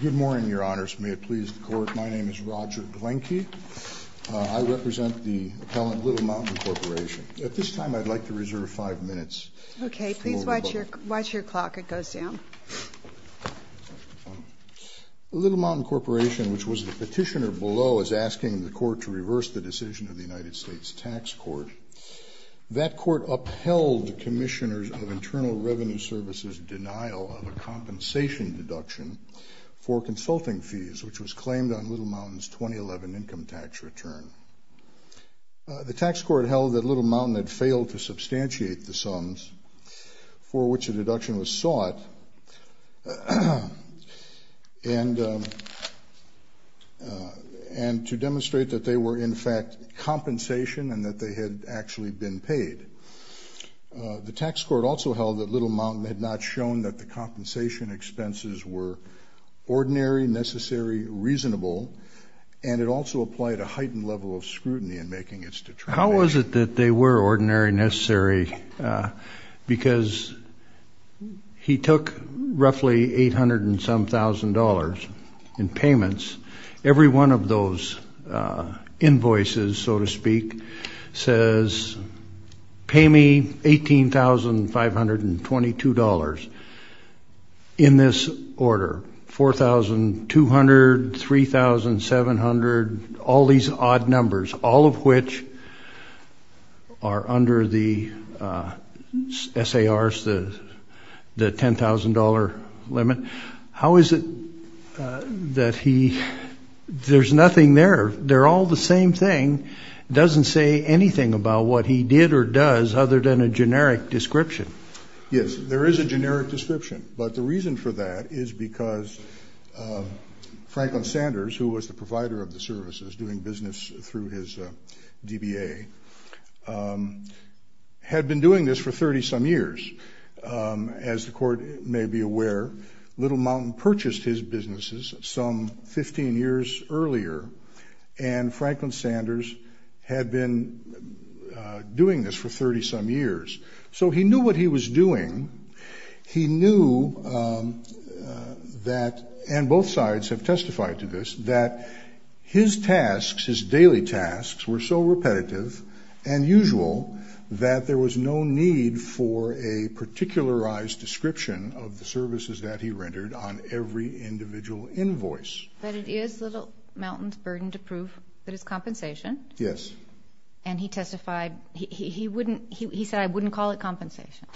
Good morning, Your Honors. May it please the Court, my name is Roger Glenke. I represent the appellant Little Mountain Corporation. At this time I'd like to reserve five minutes. Okay, please watch your clock, it goes down. Little Mountain Corporation, which was the petitioner below, is asking the Court to reverse the decision of the United States Tax Court. That Court upheld the Commissioners of Internal Revenue Services' denial of a compensation deduction for consulting fees, which was claimed on Little Mountain's 2011 income tax return. The Tax Court held that Little Mountain had failed to substantiate the sums for which a deduction was sought, and to demonstrate that they were in fact compensation and that they had actually been paid. The Tax Court also held that Little Mountain had not shown that the compensation expenses were ordinary, necessary, reasonable, and it also applied a heightened level of scrutiny in making its determination. How was it that they were ordinary, necessary, because he took roughly $800 and some thousand dollars in payments. Every one of those invoices, so to speak, says pay me $18,522 in this order, $4,200, $3,700, all these odd numbers, all of which are under the SARs, the $10,000 limit. How is it that he, there's nothing there, they're all the same thing, doesn't say anything about what he did or does other than a generic description? Yes, there is a generic description, but the reason for that is because Franklin Sanders, who was the provider of the services, doing business through his DBA, had been doing this for 30-some years. As the Court may be aware, Little Mountain purchased his businesses some 15 years earlier, and Franklin Sanders had been doing this for 30-some years. So he knew what he was doing, he knew that, and both sides have testified to this, that his tasks, his daily tasks, were so repetitive and usual that there was no need for a particularized description of the services that he rendered on every individual invoice. But it is Little Mountain's burden to prove that it's compensation. Yes. And he testified, he said, I wouldn't call it compensation.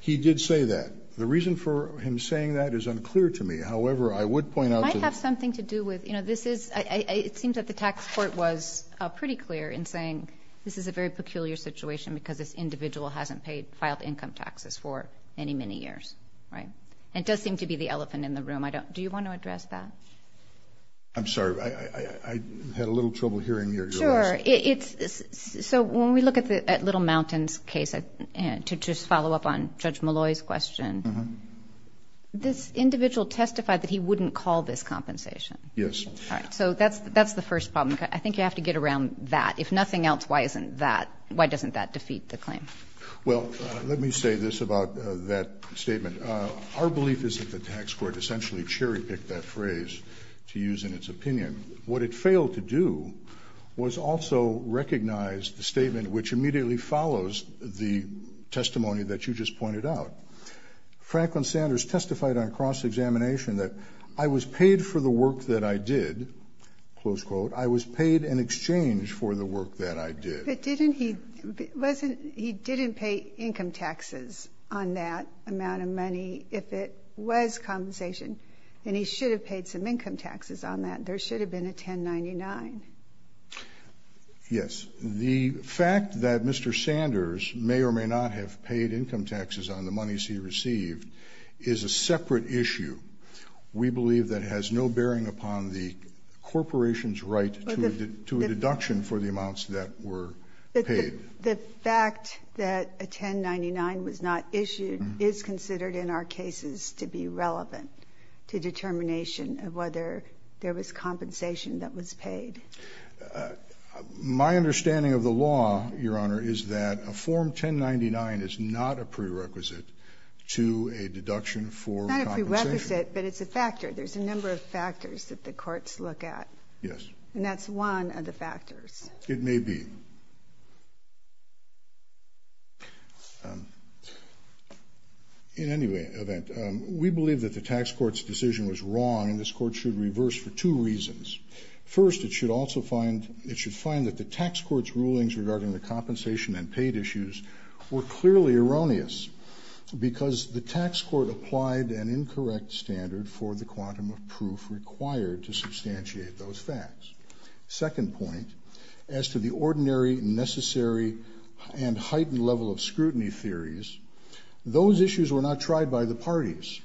He did say that. The reason for him saying that is unclear to me. However, I would point out to the… It might have something to do with, you know, this is, it seems that the tax court was pretty clear in saying this is a very peculiar situation because this individual hasn't paid, filed income taxes for many, many years. Right? And it does seem to be the elephant in the room. Do you want to address that? I'm sorry, I had a little trouble hearing your question. I'm sorry. So when we look at Little Mountain's case, to just follow up on Judge Malloy's question, this individual testified that he wouldn't call this compensation. Yes. All right. So that's the first problem. I think you have to get around that. If nothing else, why isn't that, why doesn't that defeat the claim? Well, let me say this about that statement. Our belief is that the tax court essentially cherry-picked that phrase to use in its opinion. What it failed to do was also recognize the statement which immediately follows the testimony that you just pointed out. Franklin Sanders testified on cross-examination that I was paid for the work that I did, close quote, I was paid in exchange for the work that I did. But didn't he, wasn't, he didn't pay income taxes on that amount of money if it was compensation. And he should have paid some income taxes on that. There should have been a 1099. Yes. The fact that Mr. Sanders may or may not have paid income taxes on the monies he received is a separate issue. We believe that has no bearing upon the corporation's right to a deduction for the amounts that were paid. The fact that a 1099 was not issued is considered in our cases to be relevant to determination of whether there was compensation that was paid. My understanding of the law, Your Honor, is that a Form 1099 is not a prerequisite to a deduction for compensation. It's not a prerequisite, but it's a factor. There's a number of factors that the courts look at. And that's one of the factors. It may be. In any event, we believe that the tax court's decision was wrong, and this court should reverse for two reasons. First, it should also find, it should find that the tax court's rulings regarding the compensation and paid issues were clearly erroneous. Because the tax court applied an incorrect standard for the quantum of proof required to substantiate those facts. Second point, as to the ordinary, necessary, and heightened level of scrutiny theories, those issues were not tried by the parties.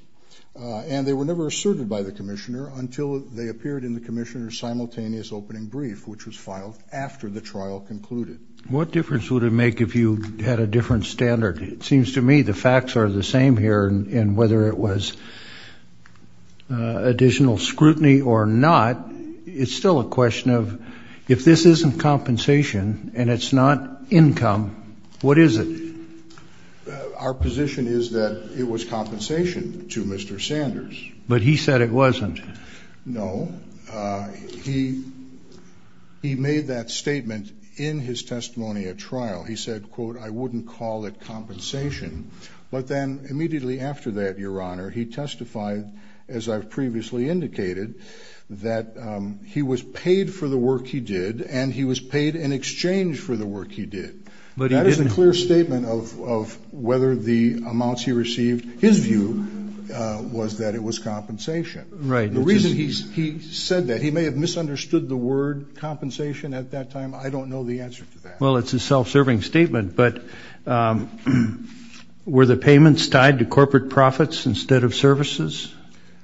And they were never asserted by the commissioner until they appeared in the commissioner's simultaneous opening brief, which was filed after the trial concluded. What difference would it make if you had a different standard? It seems to me the facts are the same here. And whether it was additional scrutiny or not, it's still a question of if this isn't compensation and it's not income, what is it? Our position is that it was compensation to Mr. Sanders. But he said it wasn't. No. He made that statement in his testimony at trial. He said, quote, I wouldn't call it compensation. But then immediately after that, Your Honor, he testified, as I've previously indicated, that he was paid for the work he did and he was paid in exchange for the work he did. That is a clear statement of whether the amounts he received, his view, was that it was compensation. Right. The reason he said that, he may have misunderstood the word compensation at that time. I don't know the answer to that. Well, it's a self-serving statement. But were the payments tied to corporate profits instead of services?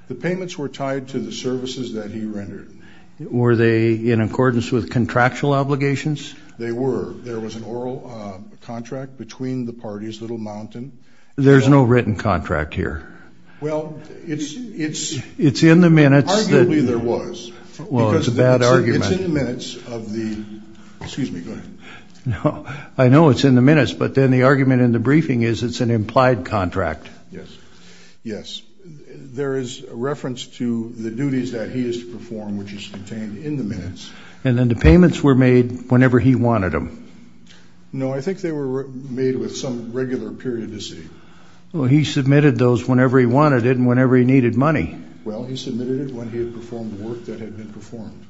The payments were tied to the services that he rendered. Were they in accordance with contractual obligations? They were. There was an oral contract between the parties, Little Mountain. There's no written contract here. Well, it's in the minutes. Arguably there was. Well, it's a bad argument. It's in the minutes of the, excuse me, go ahead. No, I know it's in the minutes, but then the argument in the briefing is it's an implied contract. Yes. Yes. There is reference to the duties that he is to perform, which is contained in the minutes. And then the payments were made whenever he wanted them. No, I think they were made with some regular periodicity. Well, he submitted those whenever he wanted it and whenever he needed money. Well, he submitted it when he had performed the work that had been performed.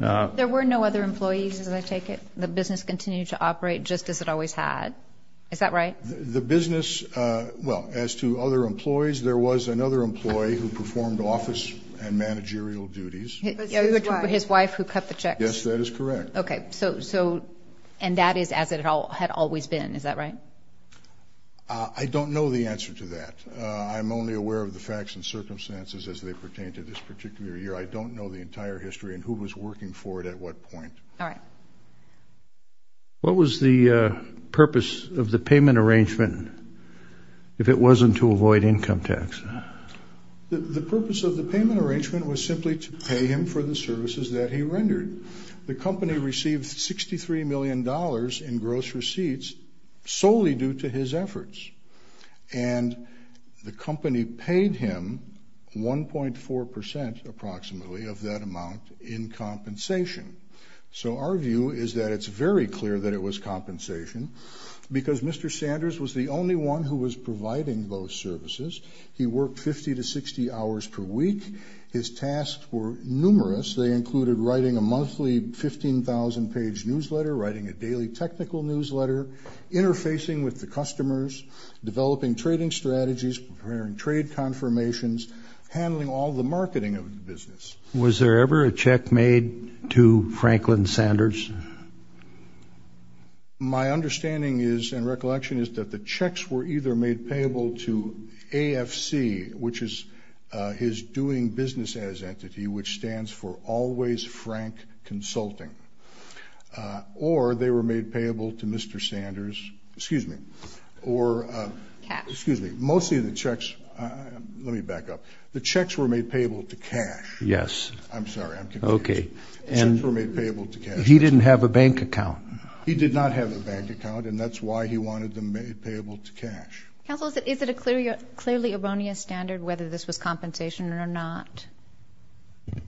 There were no other employees, as I take it? The business continued to operate just as it always had. Is that right? The business, well, as to other employees, there was another employee who performed office and managerial duties. His wife. His wife who cut the checks. Yes, that is correct. Okay. So, and that is as it had always been. Is that right? I don't know the answer to that. I'm only aware of the facts and circumstances as they pertain to this particular year. I don't know the entire history and who was working for it at what point. All right. What was the purpose of the payment arrangement if it wasn't to avoid income tax? The purpose of the payment arrangement was simply to pay him for the services that he rendered. The company received $63 million in gross receipts solely due to his efforts. And the company paid him 1.4 percent approximately of that amount in compensation. So our view is that it's very clear that it was compensation because Mr. Sanders was the only one who was providing those services. He worked 50 to 60 hours per week. His tasks were numerous. They included writing a monthly 15,000-page newsletter, writing a daily technical newsletter, interfacing with the customers, developing trading strategies, preparing trade confirmations, handling all the marketing of the business. Was there ever a check made to Franklin Sanders? My understanding is and recollection is that the checks were either made payable to AFC, which is his doing business as entity, which stands for Always Frank Consulting, or they were made payable to Mr. Sanders. Excuse me. Cash. Excuse me. Mostly the checks. Let me back up. The checks were made payable to cash. Yes. I'm sorry. I'm confused. Okay. The checks were made payable to cash. He didn't have a bank account. He did not have a bank account, and that's why he wanted them made payable to cash. Counsel, is it a clearly erroneous standard whether this was compensation or not?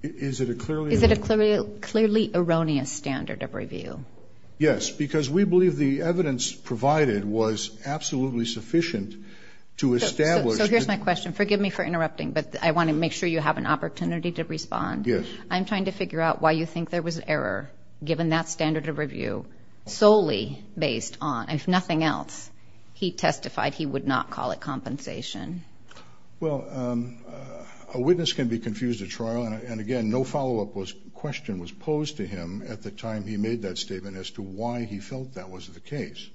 Is it a clearly? Is it a clearly erroneous standard of review? Yes, because we believe the evidence provided was absolutely sufficient to establish. So here's my question. Forgive me for interrupting, but I want to make sure you have an opportunity to respond. Yes. I'm trying to figure out why you think there was error given that standard of review solely based on, if nothing else, he testified he would not call it compensation. Well, a witness can be confused at trial. And, again, no follow-up question was posed to him at the time he made that statement as to why he felt that was the case.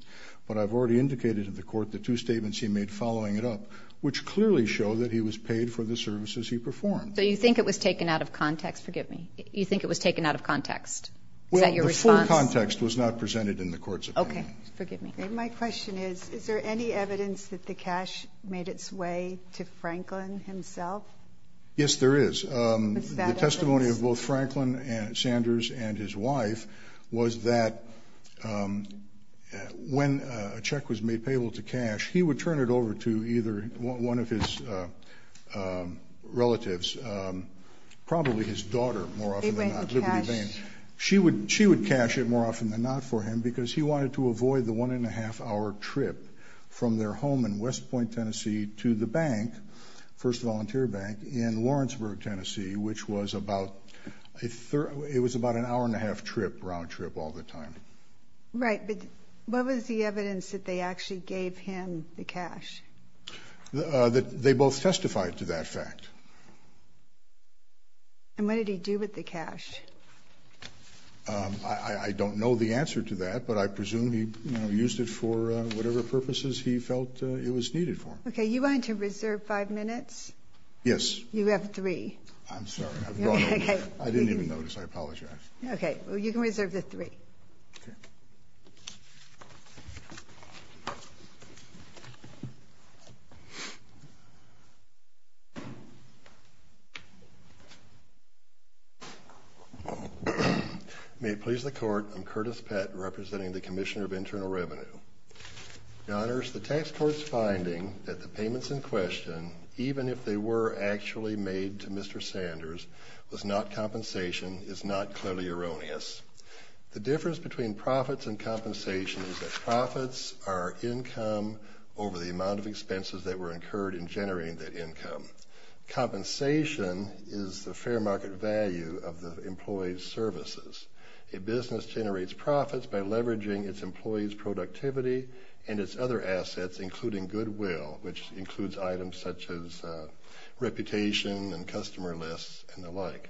But I've already indicated to the court the two statements he made following it up, which clearly show that he was paid for the services he performed. So you think it was taken out of context? Forgive me. You think it was taken out of context? Well, the full context was not presented in the court's opinion. Okay. Forgive me. My question is, is there any evidence that the cash made its way to Franklin himself? Yes, there is. Was that evidence? The testimony of both Franklin and Sanders and his wife was that when a check was made payable to cash, he would turn it over to either one of his relatives, probably his daughter, more often than not, Liberty Vane. She would cash? She would cash it more often than not for him because he wanted to avoid the one-and-a-half-hour trip from their home in West Point, Tennessee, to the bank, First Volunteer Bank, in Lawrenceburg, Tennessee, which was about an hour-and-a-half round trip all the time. Right. But what was the evidence that they actually gave him the cash? They both testified to that fact. And what did he do with the cash? I don't know the answer to that, but I presume he used it for whatever purposes he felt it was needed for. Okay. You want to reserve 5 minutes? Yes. You have 3. I'm sorry. I didn't even notice. I apologize. Okay. You can reserve the 3. Okay. Thank you. May it please the Court, I'm Curtis Pett, representing the Commissioner of Internal Revenue. Your Honors, the Tax Court's finding that the payments in question, even if they were actually made to Mr. Sanders, was not compensation is not clearly erroneous. The difference between profits and compensation is that profits are income over the amount of expenses that were incurred in generating that income. Compensation is the fair market value of the employee's services. A business generates profits by leveraging its employees' productivity and its other assets, including goodwill, which includes items such as reputation and customer lists and the like.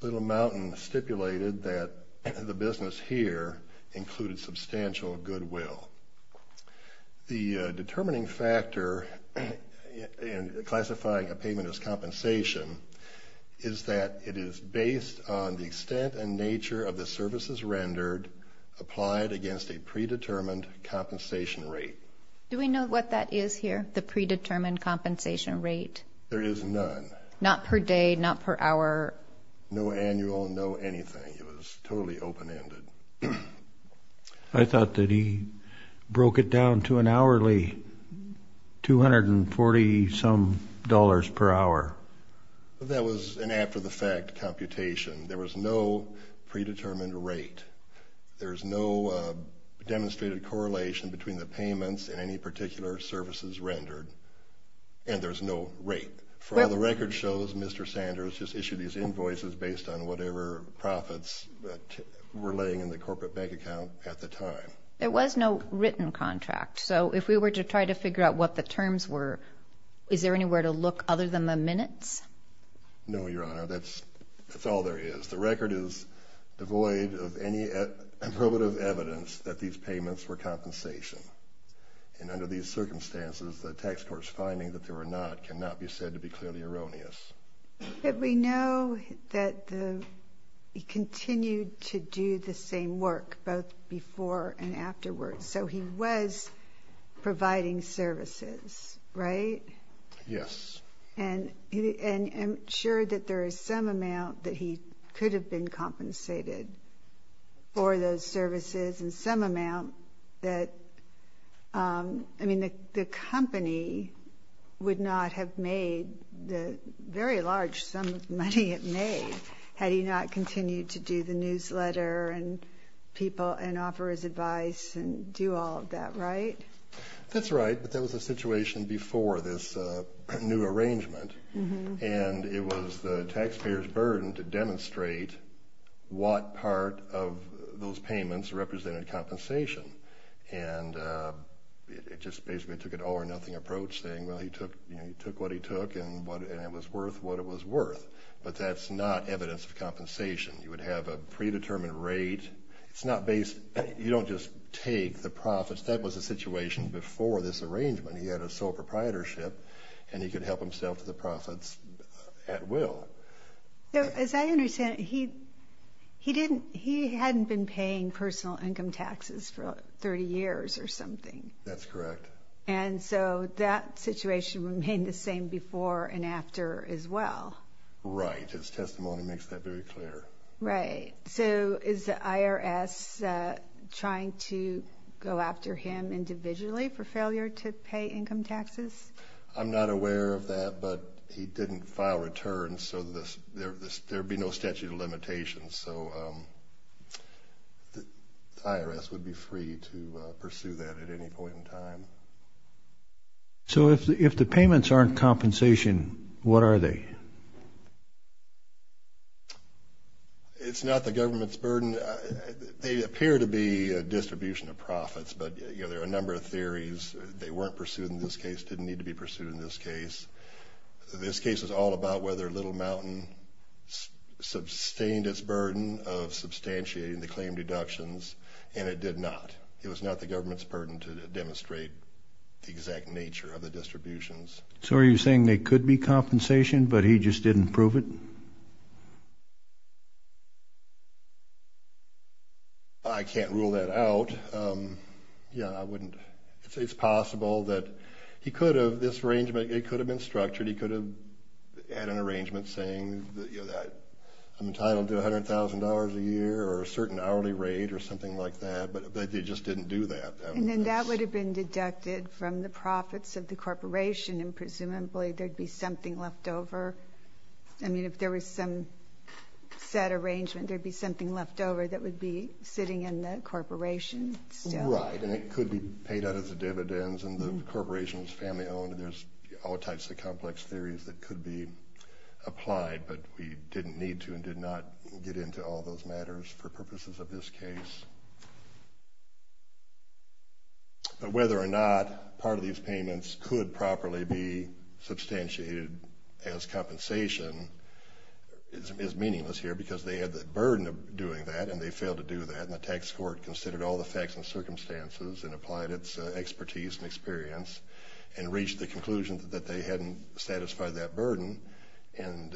Little Mountain stipulated that the business here included substantial goodwill. The determining factor in classifying a payment as compensation is that it is based on the extent and nature of the services rendered applied against a predetermined compensation rate. Do we know what that is here, the predetermined compensation rate? There is none. Not per day, not per hour? No annual, no anything. It was totally open-ended. I thought that he broke it down to an hourly $240-some dollars per hour. That was an after-the-fact computation. There was no predetermined rate. There's no demonstrated correlation between the payments and any particular services rendered, and there's no rate. For all the record shows, Mr. Sanders just issued these invoices based on whatever profits were laying in the corporate bank account at the time. There was no written contract, so if we were to try to figure out what the terms were, is there anywhere to look other than the minutes? No, Your Honor, that's all there is. The record is devoid of any probative evidence that these payments were compensation, and under these circumstances, the tax court's finding that they were not cannot be said to be clearly erroneous. But we know that he continued to do the same work both before and afterwards, so he was providing services, right? Yes. And I'm sure that there is some amount that he could have been compensated for those services and some amount that, I mean, the company would not have made the very large sum of money it made had he not continued to do the newsletter and people and offer his advice and do all of that, right? That's right, but that was a situation before this new arrangement, and it was the taxpayer's burden to demonstrate what part of those payments represented compensation. And it just basically took an all-or-nothing approach, saying, well, he took what he took, and it was worth what it was worth. But that's not evidence of compensation. You would have a predetermined rate. It's not based – you don't just take the profits. That was a situation before this arrangement. He had a sole proprietorship, and he could help himself to the profits at will. As I understand it, he didn't – he hadn't been paying personal income taxes for 30 years or something. That's correct. And so that situation remained the same before and after as well. Right. His testimony makes that very clear. Right. So is the IRS trying to go after him individually for failure to pay income taxes? I'm not aware of that, but he didn't file returns, so there would be no statute of limitations. So the IRS would be free to pursue that at any point in time. So if the payments aren't compensation, what are they? It's not the government's burden. They appear to be a distribution of profits, but, you know, there are a number of theories. They weren't pursued in this case, didn't need to be pursued in this case. This case is all about whether Little Mountain sustained its burden of substantiating the claim deductions, and it did not. It was not the government's burden to demonstrate the exact nature of the distributions. So are you saying there could be compensation, but he just didn't prove it? I can't rule that out. Yeah, I wouldn't – it's possible that he could have – this arrangement, it could have been structured. He could have had an arrangement saying that I'm entitled to $100,000 a year or a certain hourly rate or something like that, but they just didn't do that. And then that would have been deducted from the profits of the corporation, and presumably there'd be something left over. I mean, if there was some set arrangement, there'd be something left over that would be sitting in the corporation still. Right, and it could be paid out as dividends, and the corporation's family-owned. There's all types of complex theories that could be applied, but we didn't need to and did not get into all those matters for purposes of this case. But whether or not part of these payments could properly be substantiated as compensation is meaningless here because they had the burden of doing that, and they failed to do that, and the tax court considered all the facts and circumstances and applied its expertise and experience and reached the conclusion that they hadn't satisfied that burden and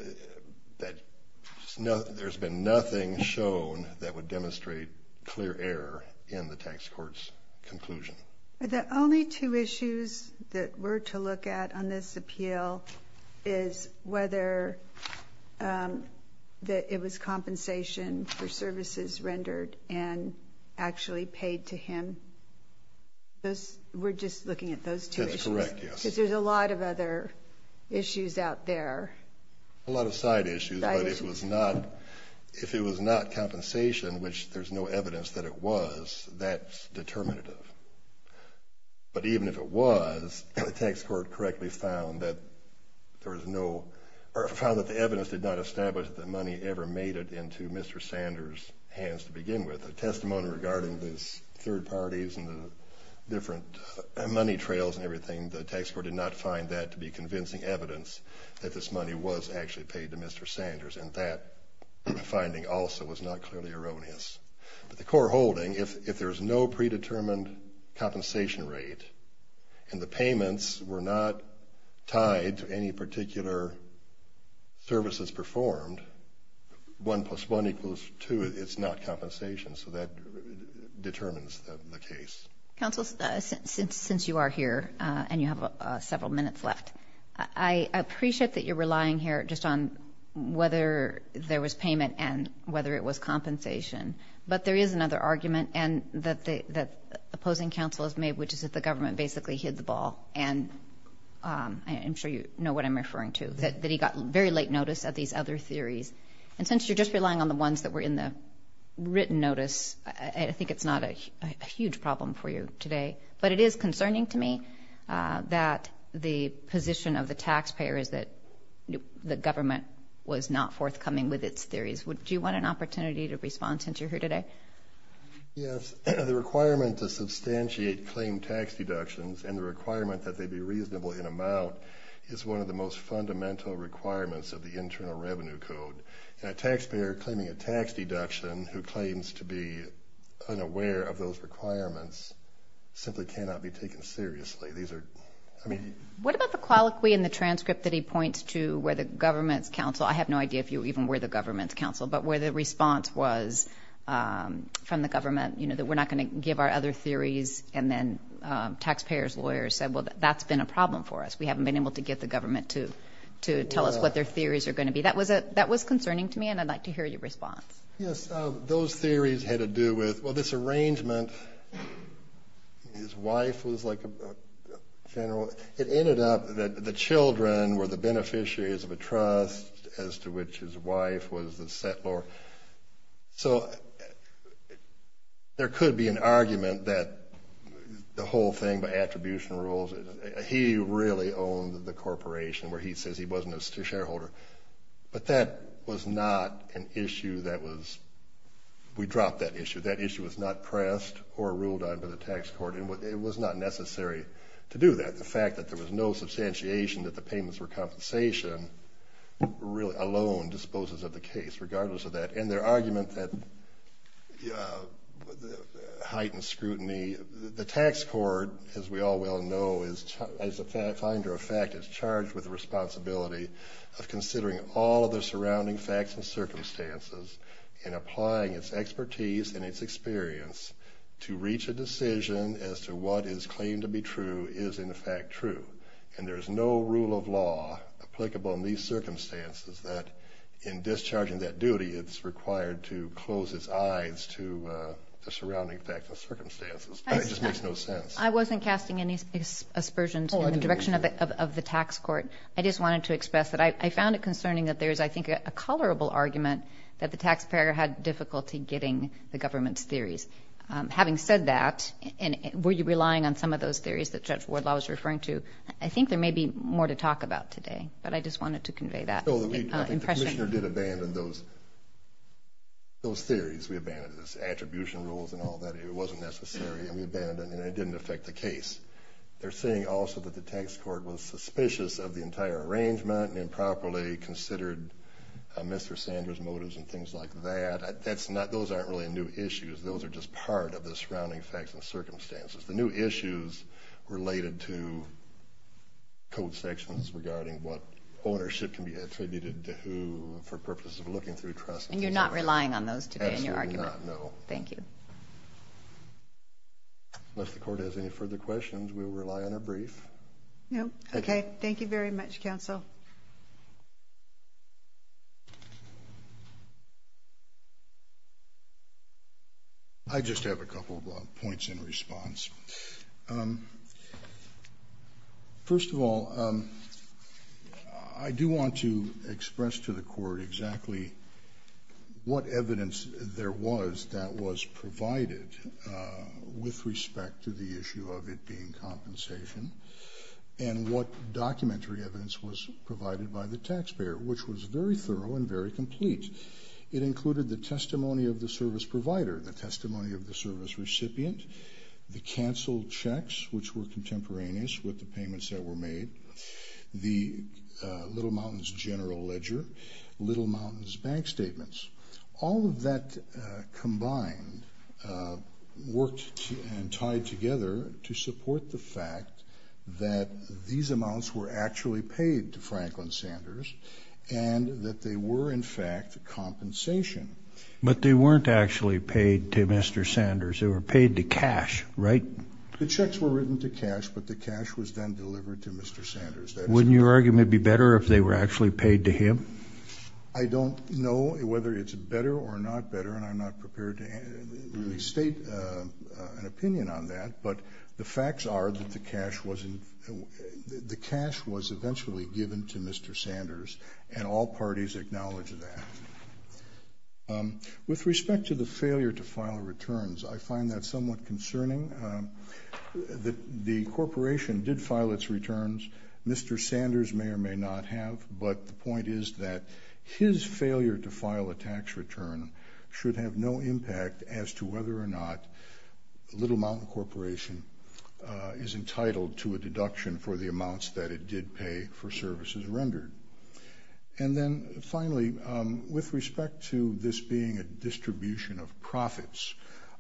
that there's been nothing shown that would demonstrate clear error in the tax court's conclusion. The only two issues that we're to look at on this appeal is whether it was compensation for services rendered and actually paid to him. We're just looking at those two issues? That's correct, yes. Because there's a lot of other issues out there. A lot of side issues, but if it was not compensation, which there's no evidence that it was, that's determinative. But even if it was, the tax court correctly found that there was no – or found that the evidence did not establish that the money ever made it into Mr. Sanders' hands to begin with. The testimony regarding the third parties and the different money trails and everything, the tax court did not find that to be convincing evidence that this money was actually paid to Mr. Sanders, and that finding also was not clearly erroneous. But the core holding, if there's no predetermined compensation rate and the payments were not tied to any particular services performed, one plus one equals two, it's not compensation, so that determines the case. Counsel, since you are here and you have several minutes left, I appreciate that you're relying here just on whether there was payment and whether it was compensation, but there is another argument that opposing counsel has made, which is that the government basically hid the ball, and I'm sure you know what I'm referring to, that he got very late notice of these other theories. And since you're just relying on the ones that were in the written notice, I think it's not a huge problem for you today. But it is concerning to me that the position of the taxpayer is that the government was not forthcoming with its theories. Do you want an opportunity to respond since you're here today? Yes. The requirement to substantiate claimed tax deductions and the requirement that they be reasonable in amount is one of the most fundamental requirements of the Internal Revenue Code. A taxpayer claiming a tax deduction who claims to be unaware of those requirements simply cannot be taken seriously. These are, I mean... What about the colloquy in the transcript that he points to where the government's counsel, but where the response was from the government, you know, that we're not going to give our other theories, and then taxpayers' lawyers said, well, that's been a problem for us. We haven't been able to get the government to tell us what their theories are going to be. That was concerning to me, and I'd like to hear your response. Yes. Those theories had to do with, well, this arrangement, his wife was like a general. So it ended up that the children were the beneficiaries of a trust as to which his wife was the settlor. So there could be an argument that the whole thing by attribution rules, he really owned the corporation where he says he wasn't a shareholder. But that was not an issue that was, we dropped that issue. That issue was not pressed or ruled on by the tax court, and it was not necessary to do that. The fact that there was no substantiation that the payments were compensation really alone disposes of the case, regardless of that, and their argument that heightened scrutiny. The tax court, as we all well know, as a finder of fact, is charged with the responsibility of considering all of the surrounding facts and circumstances and applying its expertise and its experience to reach a decision as to what is claimed to be true is in fact true. And there is no rule of law applicable in these circumstances that in discharging that duty, it's required to close its eyes to the surrounding facts and circumstances. It just makes no sense. I wasn't casting any aspersions in the direction of the tax court. I just wanted to express that I found it concerning that there is, I think, a colorable argument that the taxpayer had difficulty getting the government's theories. Having said that, were you relying on some of those theories that Judge Wardlaw was referring to? I think there may be more to talk about today, but I just wanted to convey that impression. I think the commissioner did abandon those theories. We abandoned those attribution rules and all that. It wasn't necessary, and we abandoned it, and it didn't affect the case. They're saying also that the tax court was suspicious of the entire arrangement and improperly considered Mr. Sanders' motives and things like that. Those aren't really new issues. Those are just part of the surrounding facts and circumstances. The new issues related to code sections regarding what ownership can be attributed to who for purposes of looking through trust. And you're not relying on those today in your argument? Absolutely not, no. Thank you. Unless the court has any further questions, we will rely on a brief. No. Okay. Thank you very much, counsel. First of all, I do want to express to the court exactly what evidence there was that was provided with respect to the issue of it being compensation and what documentary evidence was provided by the taxpayer, which was very thorough and very complete. It included the testimony of the service provider, the testimony of the service recipient, the canceled checks, which were contemporaneous with the payments that were made, the Little Mountains general ledger, Little Mountains bank statements. All of that combined worked and tied together to support the fact that these amounts were actually paid to Franklin Sanders and that they were, in fact, compensation. But they weren't actually paid to Mr. Sanders. They were paid to cash, right? The checks were written to cash, but the cash was then delivered to Mr. Sanders. Wouldn't your argument be better if they were actually paid to him? I don't know whether it's better or not better, and I'm not prepared to really state an opinion on that, but the facts are that the cash was eventually given to Mr. Sanders, and all parties acknowledge that. With respect to the failure to file returns, I find that somewhat concerning. The corporation did file its returns. Mr. Sanders may or may not have, but the point is that his failure to file a tax return should have no impact as to whether or not Little Mountain Corporation is entitled to a deduction for the amounts that it did pay for services rendered. And then, finally, with respect to this being a distribution of profits,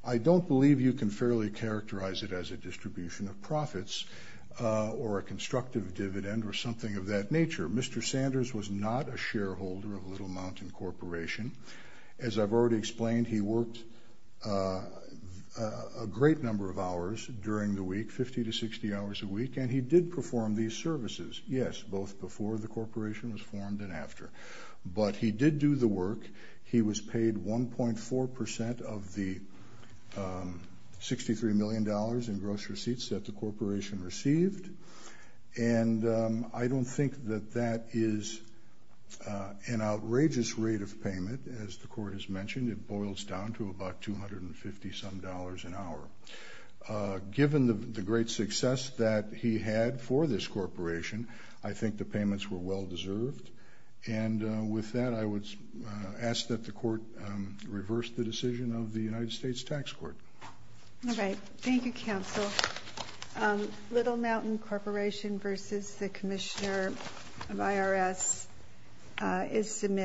I don't believe you can fairly characterize it as a distribution of profits or a constructive dividend or something of that nature. Mr. Sanders was not a shareholder of Little Mountain Corporation. As I've already explained, he worked a great number of hours during the week, 50 to 60 hours a week, and he did perform these services, yes, both before the corporation was formed and after. But he did do the work. He was paid 1.4 percent of the $63 million in gross receipts that the corporation received, and I don't think that that is an outrageous rate of payment. As the Court has mentioned, it boils down to about $250-some dollars an hour. Given the great success that he had for this corporation, I think the payments were well-deserved. And with that, I would ask that the Court reverse the decision of the United States Tax Court. All right. Thank you, Counsel. Little Mountain Corporation v. The Commissioner of IRS is submitted.